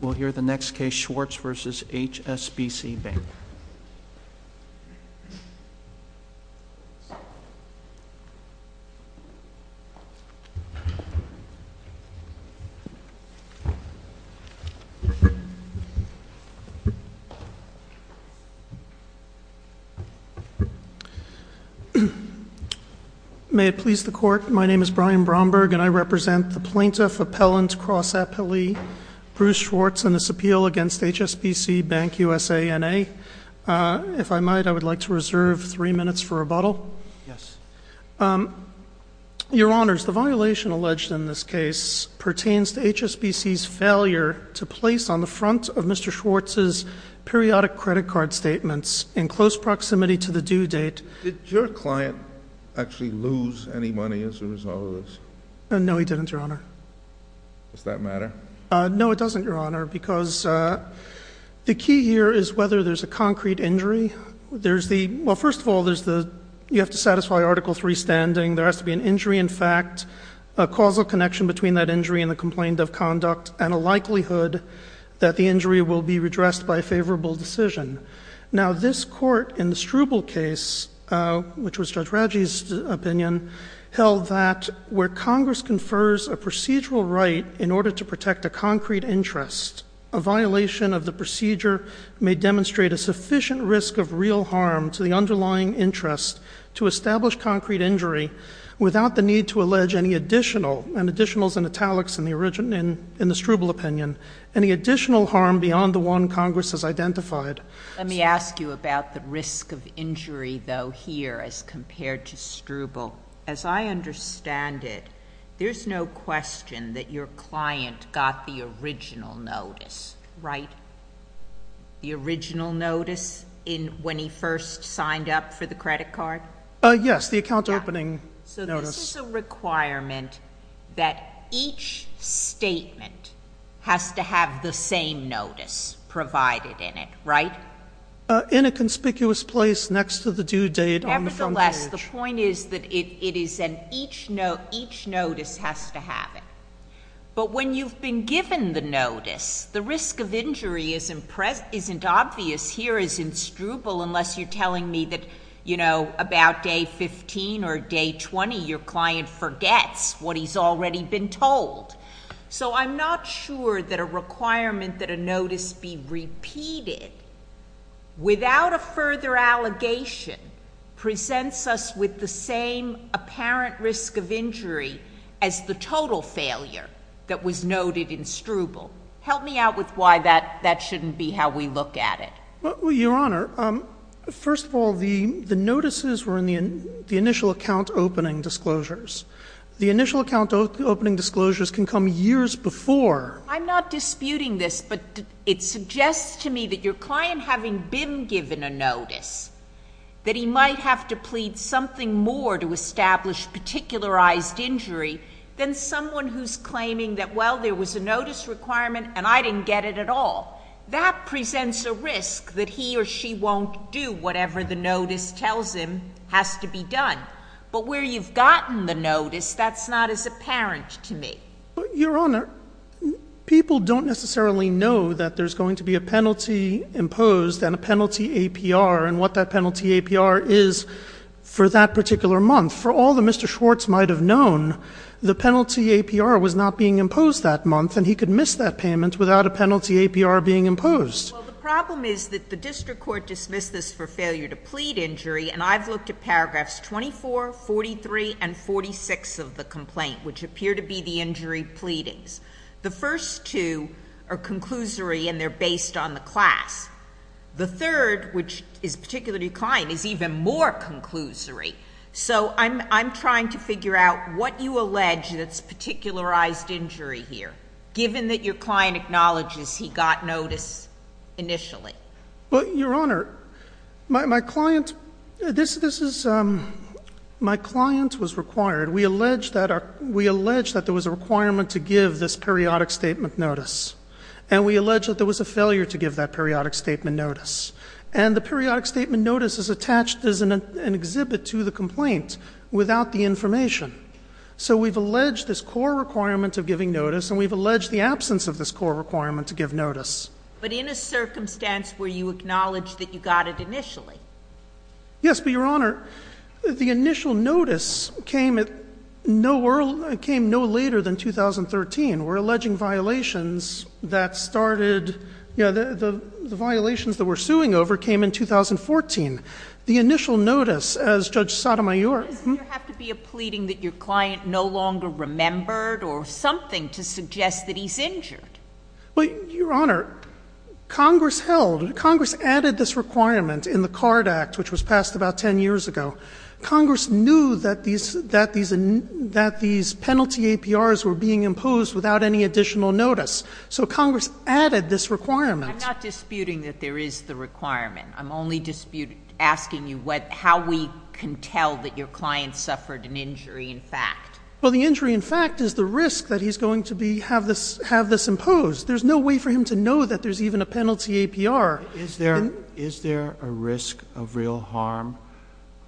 We'll hear the next case, Schwartz v. HSBC Bank. May it please the Court, my name is Brian Bromberg and I represent the Plaintiff Appellant Bruce Schwartz and this appeal against HSBC Bank USA, N.A. If I might, I would like to reserve three minutes for rebuttal. Yes. Your Honors, the violation alleged in this case pertains to HSBC's failure to place on the front of Mr. Schwartz's periodic credit card statements in close proximity to the due date. Did your client actually lose any money as a result of this? No, he didn't, Your Honor. Does that matter? No, it doesn't, Your Honor, because the key here is whether there's a concrete injury. Well, first of all, you have to satisfy Article III standing. There has to be an injury in fact, a causal connection between that injury and the complaint of conduct, and a likelihood that the injury will be redressed by a favorable decision. Now, this Court in the Struble case, which was Judge Radji's opinion, held that where Congress confers a procedural right in order to protect a concrete interest, a violation of the procedure may demonstrate a sufficient risk of real harm to the underlying interest to establish concrete injury without the need to allege any additional, and additional is in italics in the Struble opinion, any additional harm beyond the one Congress has identified. Let me ask you about the risk of injury, though, here as compared to Struble. As I understand it, there's no question that your client got the original notice, right? The original notice when he first signed up for the credit card? Yes, the account opening notice. So this is a requirement that each statement has to have the same notice provided in it, right? In a conspicuous place next to the due date on the front page. Nevertheless, the point is that each notice has to have it. But when you've been given the notice, the risk of injury isn't obvious here as in Struble, unless you're telling me that, you know, about day 15 or day 20, your client forgets what he's already been told. So I'm not sure that a requirement that a notice be repeated without a further allegation presents us with the same apparent risk of injury as the total failure that was noted in Struble. Help me out with why that shouldn't be how we look at it. Well, Your Honor, first of all, the notices were in the initial account opening disclosures. The initial account opening disclosures can come years before. I'm not disputing this, but it suggests to me that your client having been given a notice, that he might have to plead something more to establish particularized injury than someone who's claiming that, well, there was a notice requirement and I didn't get it at all. That presents a risk that he or she won't do whatever the notice tells him has to be done. But where you've gotten the notice, that's not as apparent to me. Your Honor, people don't necessarily know that there's going to be a penalty imposed and a penalty APR and what that penalty APR is for that particular month. For all that Mr. Schwartz might have known, the penalty APR was not being imposed that month and he could miss that payment without a penalty APR being imposed. Well, the problem is that the district court dismissed this for failure to plead injury. And I've looked at paragraphs 24, 43, and 46 of the complaint, which appear to be the injury pleadings. The first two are conclusory and they're based on the class. The third, which is particular to your client, is even more conclusory. So I'm trying to figure out what you allege that's particularized injury here, given that your client acknowledges he got notice initially. Well, Your Honor, my client was required. We allege that there was a requirement to give this periodic statement notice. And we allege that there was a failure to give that periodic statement notice. And the periodic statement notice is attached as an exhibit to the complaint without the information. So we've alleged this core requirement of giving notice and we've alleged the absence of this core requirement to give notice. But in a circumstance where you acknowledge that you got it initially? Yes, but Your Honor, the initial notice came no later than 2013. We're alleging violations that started, you know, the violations that we're suing over came in 2014. The initial notice, as Judge Sotomayor. Doesn't there have to be a pleading that your client no longer remembered or something to suggest that he's injured? Well, Your Honor, Congress held, Congress added this requirement in the CARD Act, which was passed about 10 years ago. Congress knew that these penalty APRs were being imposed without any additional notice. So Congress added this requirement. I'm not disputing that there is the requirement. I'm only disputing, asking you how we can tell that your client suffered an injury in fact. Well, the injury in fact is the risk that he's going to be, have this imposed. There's no way for him to know that there's even a penalty APR. Is there a risk of real harm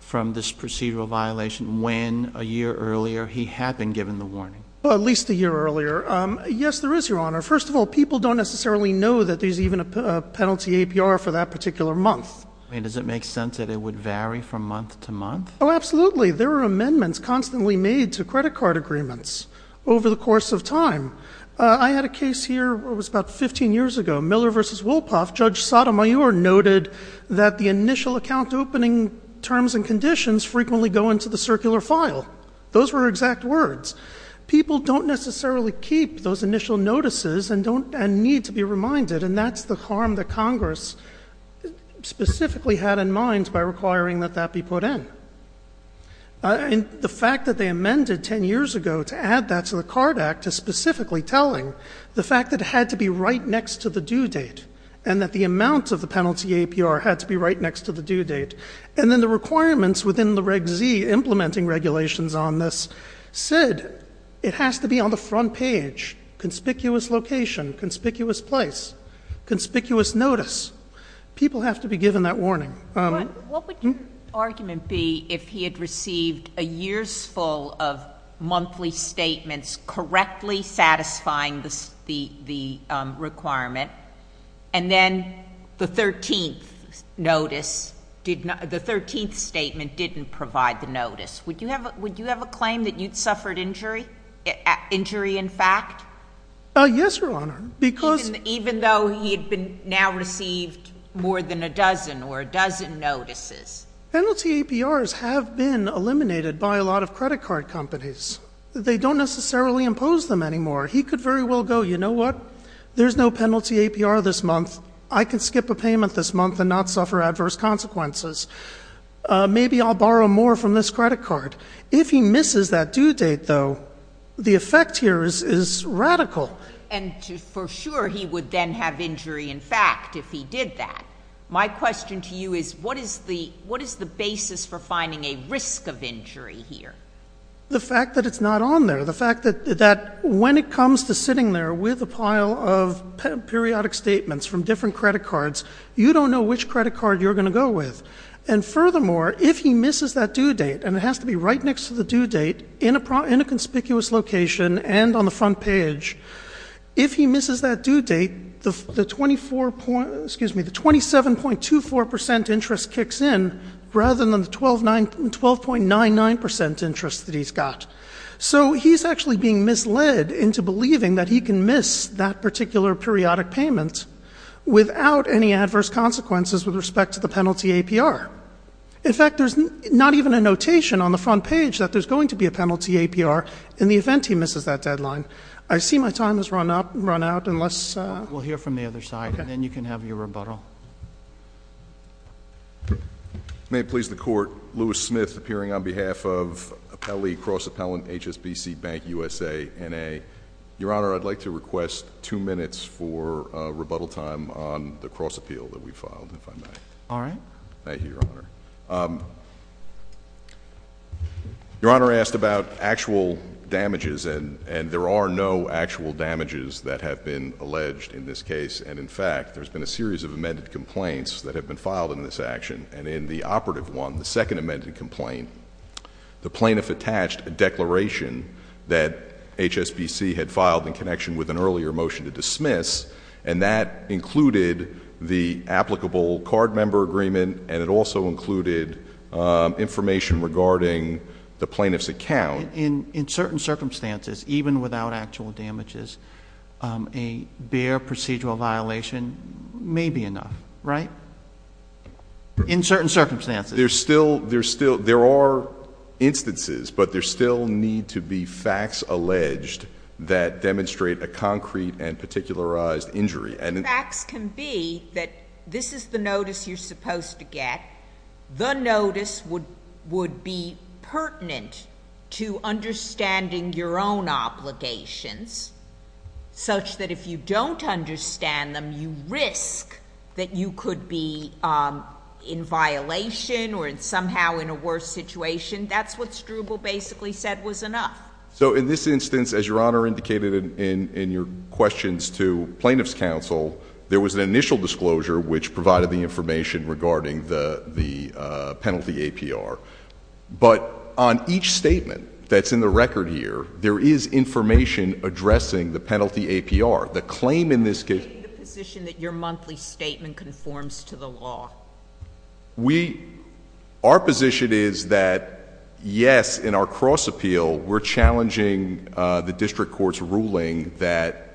from this procedural violation when a year earlier he had been given the warning? Well, at least a year earlier. Yes, there is, Your Honor. First of all, people don't necessarily know that there's even a penalty APR for that particular month. I mean, does it make sense that it would vary from month to month? Oh, absolutely. There are amendments constantly made to credit card agreements over the course of time. I had a case here, it was about 15 years ago, Miller v. Wolpoff. Judge Sotomayor noted that the initial account opening terms and conditions frequently go into the circular file. Those were exact words. People don't necessarily keep those initial notices and need to be reminded, and that's the harm that Congress specifically had in mind by requiring that that be put in. And the fact that they amended 10 years ago to add that to the Card Act is specifically telling the fact that it had to be right next to the due date, and that the amount of the penalty APR had to be right next to the due date. And then the requirements within the Reg Z implementing regulations on this said it has to be on the front page, conspicuous location, conspicuous place, conspicuous notice. People have to be given that warning. What would your argument be if he had received a year's full of monthly statements correctly satisfying the requirement, and then the 13th notice, the 13th statement didn't provide the notice? Would you have a claim that you'd suffered injury? Injury in fact? Yes, Your Honor. Even though he had now received more than a dozen or a dozen notices? Penalty APRs have been eliminated by a lot of credit card companies. They don't necessarily impose them anymore. He could very well go, you know what, there's no penalty APR this month. I can skip a payment this month and not suffer adverse consequences. Maybe I'll borrow more from this credit card. If he misses that due date, though, the effect here is radical. And for sure he would then have injury in fact if he did that. My question to you is what is the basis for finding a risk of injury here? The fact that it's not on there. The fact that when it comes to sitting there with a pile of periodic statements from different credit cards, you don't know which credit card you're going to go with. And furthermore, if he misses that due date, and it has to be right next to the due date, in a conspicuous location and on the front page, if he misses that due date, the 27.24% interest kicks in rather than the 12.99% interest that he's got. So he's actually being misled into believing that he can miss that particular periodic payment without any adverse consequences with respect to the penalty APR. In fact, there's not even a notation on the front page that there's going to be a penalty APR in the event he misses that deadline. I see my time has run out. We'll hear from the other side, and then you can have your rebuttal. May it please the Court, Louis Smith appearing on behalf of Cross Appellant HSBC Bank USA, NA. Your Honor, I'd like to request two minutes for rebuttal time on the cross appeal that we filed, if I may. All right. Thank you, Your Honor. Your Honor asked about actual damages, and there are no actual damages that have been alleged in this case. And, in fact, there's been a series of amended complaints that have been filed in this action. And in the operative one, the second amended complaint, the plaintiff attached a declaration that HSBC had filed in connection with an earlier motion to dismiss, and that included the applicable card member agreement, and it also included information regarding the plaintiff's account. In certain circumstances, even without actual damages, a bare procedural violation may be enough, right? In certain circumstances. There are instances, but there still need to be facts alleged that demonstrate a concrete and particularized injury. Facts can be that this is the notice you're supposed to get. The notice would be pertinent to understanding your own obligations, such that if you don't understand them, you risk that you could be in violation or somehow in a worse situation. That's what Struble basically said was enough. So, in this instance, as Your Honor indicated in your questions to plaintiff's counsel, there was an initial disclosure which provided the information regarding the penalty APR. But on each statement that's in the record here, there is information addressing the penalty APR. The claim in this case— Are you in the position that your monthly statement conforms to the law? Our position is that, yes, in our cross-appeal, we're challenging the district court's ruling that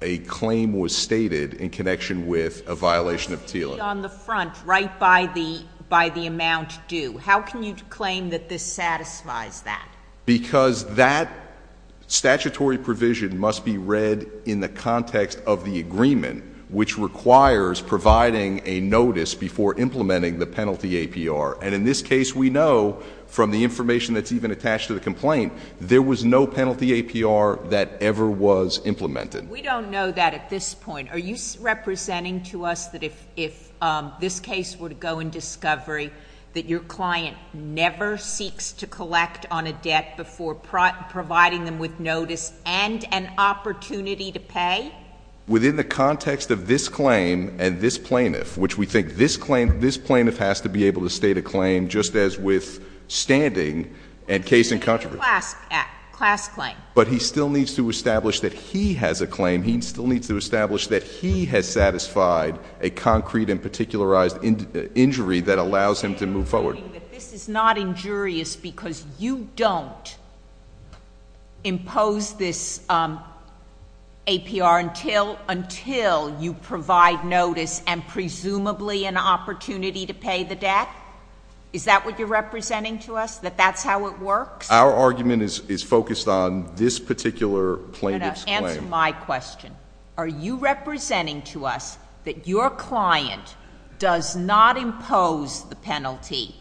a claim was stated in connection with a violation of TLA. It's stated on the front, right by the amount due. How can you claim that this satisfies that? Because that statutory provision must be read in the context of the agreement, which requires providing a notice before implementing the penalty APR. And in this case, we know from the information that's even attached to the complaint, there was no penalty APR that ever was implemented. We don't know that at this point. Are you representing to us that if this case were to go in discovery, that your client never seeks to collect on a debt before providing them with notice and an opportunity to pay? Within the context of this claim and this plaintiff, which we think this plaintiff has to be able to state a claim just as withstanding and case in controversy. Class claim. He still needs to establish that he has satisfied a concrete and particularized injury that allows him to move forward. This is not injurious because you don't impose this APR until you provide notice and presumably an opportunity to pay the debt? Is that what you're representing to us, that that's how it works? Our argument is focused on this particular plaintiff's claim. I'm going to answer my question. Are you representing to us that your client does not impose the penalty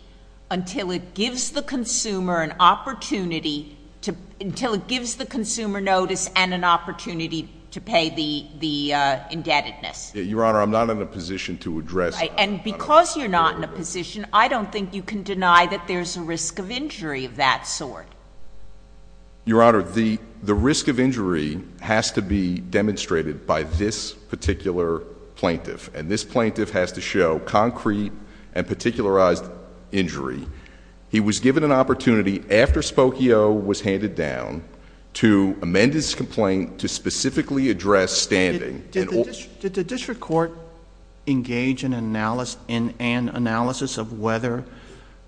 until it gives the consumer an opportunity to, until it gives the consumer notice and an opportunity to pay the indebtedness? Your Honor, I'm not in a position to address that. And because you're not in a position, I don't think you can deny that there's a risk of injury of that sort. Your Honor, the risk of injury has to be demonstrated by this particular plaintiff. And this plaintiff has to show concrete and particularized injury. He was given an opportunity after Spokio was handed down to amend his complaint to specifically address standing. Did the district court engage in analysis of whether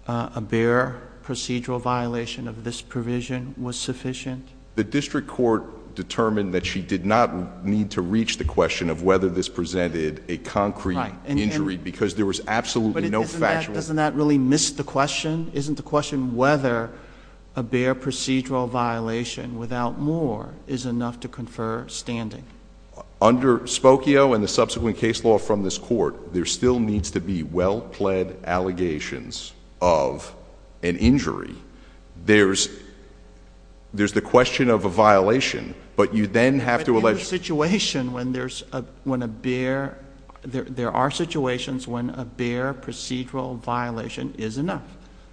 a bare procedural violation of this provision was sufficient? The district court determined that she did not need to reach the question of whether this presented a concrete injury because there was absolutely no factual. But doesn't that really miss the question? Isn't the question whether a bare procedural violation without more is enough to confer standing? Under Spokio and the subsequent case law from this court, there still needs to be well-pled allegations of an injury. There's the question of a violation, but you then have to... But in a situation when there's a, when a bare, there are situations when a bare procedural violation is enough.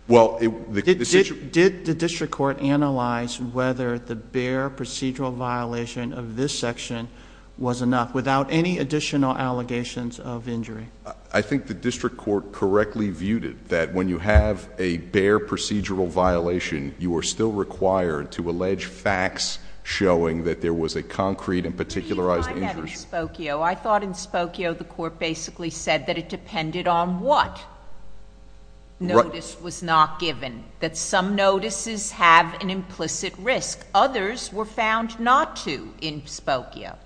Well, it... Did the district court analyze whether the bare procedural violation of this section was enough without any additional allegations of injury? I think the district court correctly viewed it, that when you have a bare procedural violation, you are still required to allege facts showing that there was a concrete and particularized injury. I thought in Spokio the court basically said that it depended on what notice was not given. That some notices have an implicit risk. Others were found not to in Spokio.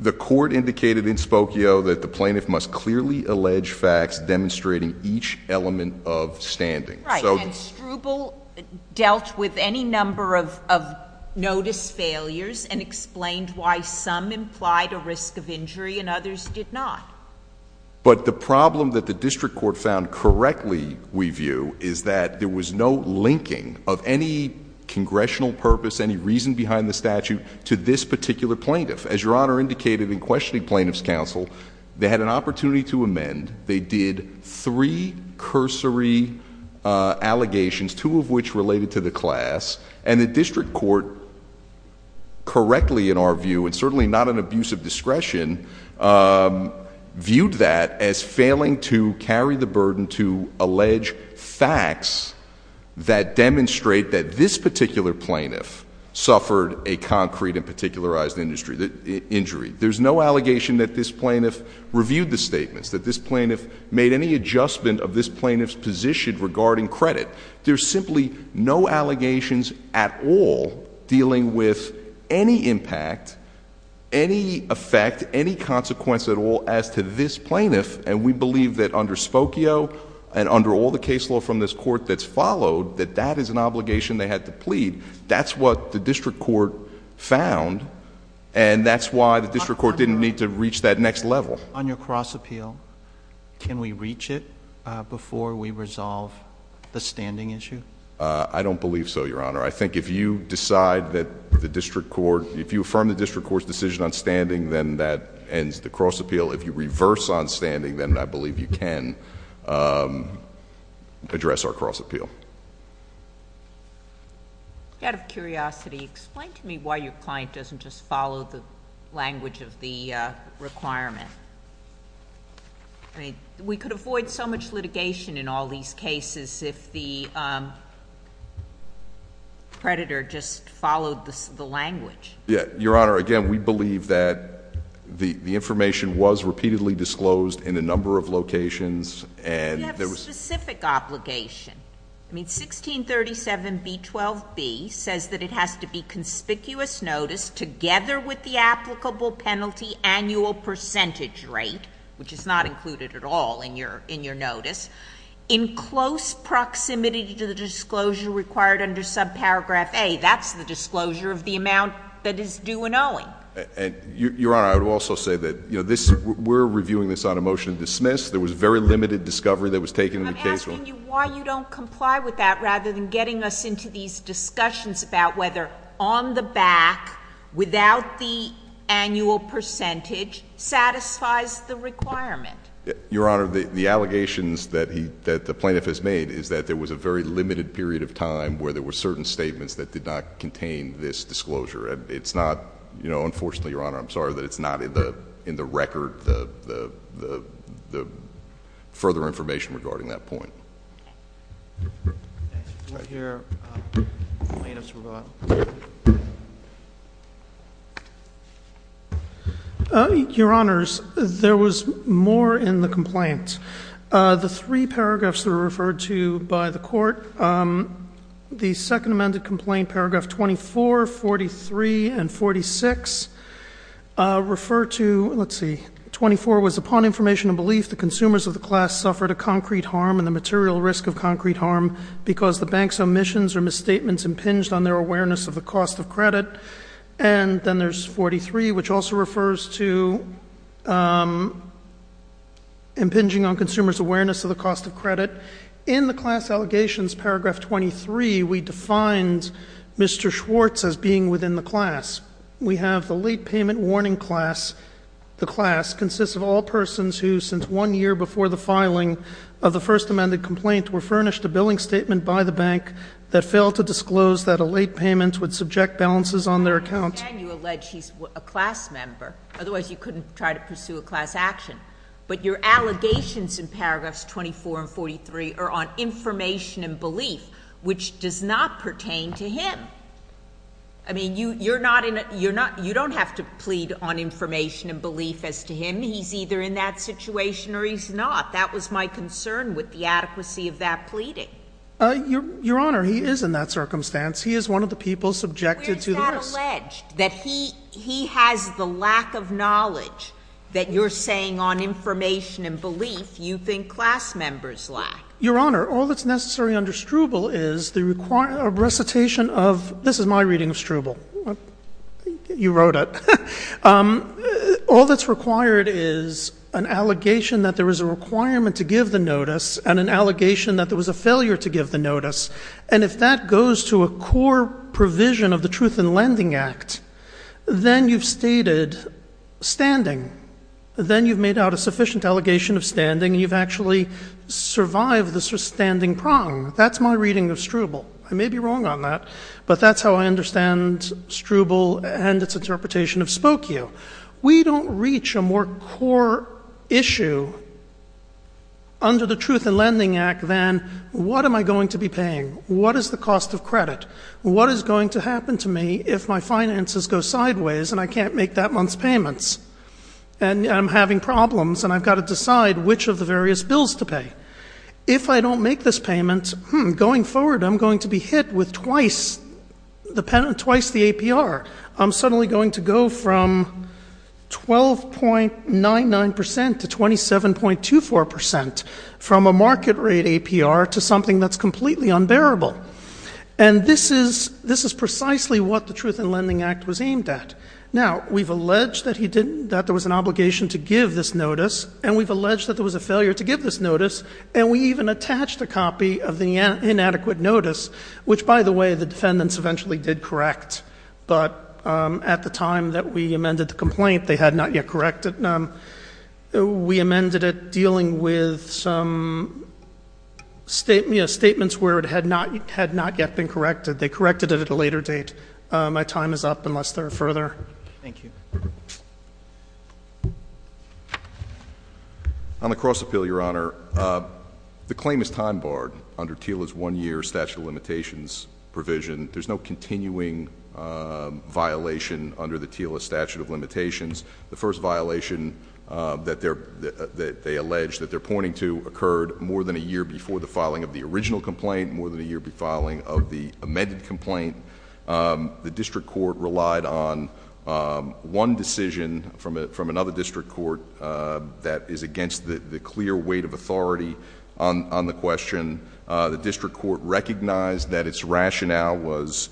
The court indicated in Spokio that the plaintiff must clearly allege facts demonstrating each element of standing. Right. And Struble dealt with any number of notice failures and explained why some implied a risk of injury and others did not. But the problem that the district court found correctly, we view, is that there was no linking of any congressional purpose, any reason behind the statute to this particular plaintiff. As Your Honor indicated in questioning plaintiff's counsel, they had an opportunity to amend. They did three cursory allegations, two of which related to the class. And the district court correctly, in our view, and certainly not an abuse of discretion, viewed that as failing to carry the burden to allege facts that demonstrate that this particular plaintiff suffered a concrete and particularized injury. There's no allegation that this plaintiff reviewed the statements. That this plaintiff made any adjustment of this plaintiff's position regarding credit. There's simply no allegations at all dealing with any impact, any effect, any consequence at all as to this plaintiff. And we believe that under Spokio and under all the case law from this court that's followed, that's what the district court found and that's why the district court didn't need to reach that next level. On your cross appeal, can we reach it before we resolve the standing issue? I don't believe so, Your Honor. I think if you decide that the district court, if you affirm the district court's decision on standing, then that ends the cross appeal. If you reverse on standing, then I believe you can address our cross appeal. Out of curiosity, explain to me why your client doesn't just follow the language of the requirement. We could avoid so much litigation in all these cases if the predator just followed the language. Your Honor, again, we believe that the information was repeatedly disclosed in a number of locations and- You have a specific obligation. I mean, 1637B12B says that it has to be conspicuous notice together with the applicable penalty annual percentage rate, which is not included at all in your notice, in close proximity to the disclosure required under subparagraph A. That's the disclosure of the amount that is due and owing. Your Honor, I would also say that we're reviewing this on a motion to dismiss. There was very limited discovery that was taken in the case. I'm asking you why you don't comply with that rather than getting us into these discussions about whether on the back, without the annual percentage, satisfies the requirement. Your Honor, the allegations that the plaintiff has made is that there was a very limited period of time where there were certain statements that did not contain this disclosure. And it's not, you know, unfortunately, Your Honor, I'm sorry, that it's not in the record, the further information regarding that point. Let's hear plaintiff's rebuttal. Your Honors, there was more in the complaint. The three paragraphs that were referred to by the court, the second amended complaint, paragraph 24, 43, and 46, refer to, let's see, 24 was upon information and belief the consumers of the class suffered a concrete harm and the material risk of concrete harm because the bank's omissions or misstatements impinged on their awareness of the cost of credit. And then there's 43, which also refers to impinging on consumers' awareness of the cost of credit. In the class allegations, paragraph 23, we defined Mr. Schwartz as being within the class. We have the late payment warning class. The class consists of all persons who, since one year before the filing of the first amended complaint, were furnished a billing statement by the bank that failed to disclose that a late payment would subject balances on their account. Again, you allege he's a class member. Otherwise, you couldn't try to pursue a class action. But your allegations in paragraphs 24 and 43 are on information and belief, which does not pertain to him. I mean, you don't have to plead on information and belief as to him. He's either in that situation or he's not. That was my concern with the adequacy of that pleading. Your Honor, he is in that circumstance. He is one of the people subjected to the risk. Where is that alleged, that he has the lack of knowledge that you're saying on information and belief you think class members lack? Your Honor, all that's necessary under Struble is the recitation of this is my reading of Struble. You wrote it. All that's required is an allegation that there was a requirement to give the notice and an allegation that there was a failure to give the notice. And if that goes to a core provision of the Truth in Lending Act, then you've stated standing. You've actually survived the standing prong. That's my reading of Struble. I may be wrong on that, but that's how I understand Struble and its interpretation of Spokio. We don't reach a more core issue under the Truth in Lending Act than what am I going to be paying? What is the cost of credit? What is going to happen to me if my finances go sideways and I can't make that month's payments? And I'm having problems and I've got to decide which of the various bills to pay. If I don't make this payment, going forward I'm going to be hit with twice the APR. I'm suddenly going to go from 12.99% to 27.24% from a market rate APR to something that's completely unbearable. And this is precisely what the Truth in Lending Act was aimed at. Now, we've alleged that there was an obligation to give this notice, and we've alleged that there was a failure to give this notice, and we even attached a copy of the inadequate notice, which, by the way, the defendants eventually did correct. But at the time that we amended the complaint, they had not yet corrected. We amended it dealing with some statements where it had not yet been corrected. They corrected it at a later date. My time is up, unless there are further. Thank you. On the Cross-Appeal, Your Honor, the claim is time-barred under TILA's one-year statute of limitations provision. There's no continuing violation under the TILA statute of limitations. The first violation that they allege that they're pointing to occurred more than a year before the filing of the original complaint, more than a year before the filing of the amended complaint. The district court relied on one decision from another district court that is against the clear weight of authority on the question. The district court recognized that its rationale was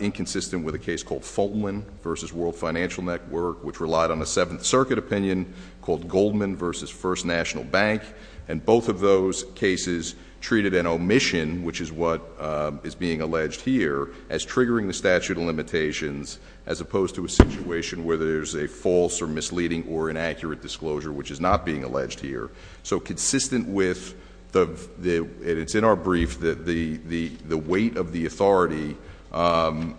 inconsistent with a case called Fultonland v. World Financial Network, which relied on a Seventh Circuit opinion called Goldman v. First National Bank, and both of those cases treated an omission, which is what is being alleged here, as triggering the statute of limitations as opposed to a situation where there's a false or misleading or inaccurate disclosure, which is not being alleged here. So consistent with the — and it's in our brief — the weight of the authority, the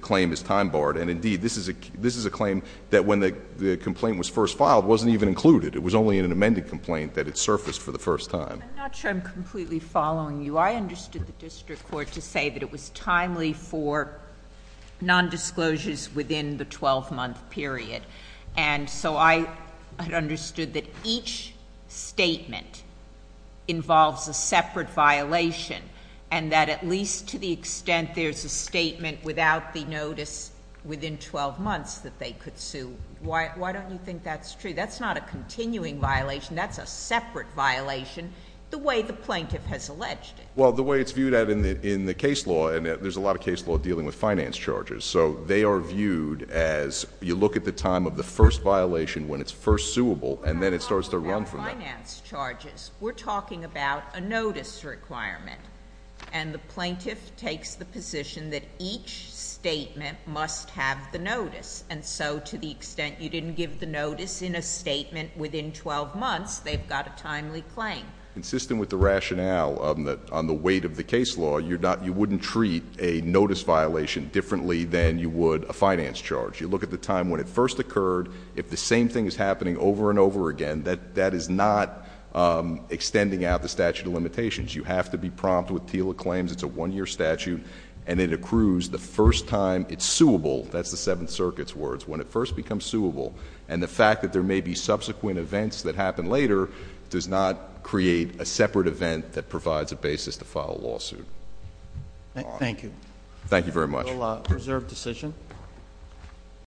claim is time-barred. And, indeed, this is a claim that when the complaint was first filed wasn't even included. It was only in an amended complaint that it surfaced for the first time. I'm not sure I'm completely following you. I understood the district court to say that it was timely for nondisclosures within the 12-month period. And so I understood that each statement involves a separate violation, and that at least to the extent there's a statement without the notice within 12 months that they could sue, why don't you think that's true? That's not a continuing violation. That's a separate violation the way the plaintiff has alleged it. Well, the way it's viewed in the case law, and there's a lot of case law dealing with finance charges, so they are viewed as you look at the time of the first violation when it's first suable, and then it starts to run from there. We're talking about a notice requirement, and the plaintiff takes the position that each statement must have the notice. And so to the extent you didn't give the notice in a statement within 12 months, they've got a timely claim. Consistent with the rationale on the weight of the case law, you wouldn't treat a notice violation differently than you would a finance charge. You look at the time when it first occurred. If the same thing is happening over and over again, that is not extending out the statute of limitations. You have to be prompt with TILA claims. It's a one-year statute, and it accrues the first time it's suable. That's the Seventh Circuit's words, when it first becomes suable. And the fact that there may be subsequent events that happen later does not create a separate event that provides a basis to file a lawsuit. Thank you. Thank you very much. We'll reserve decision.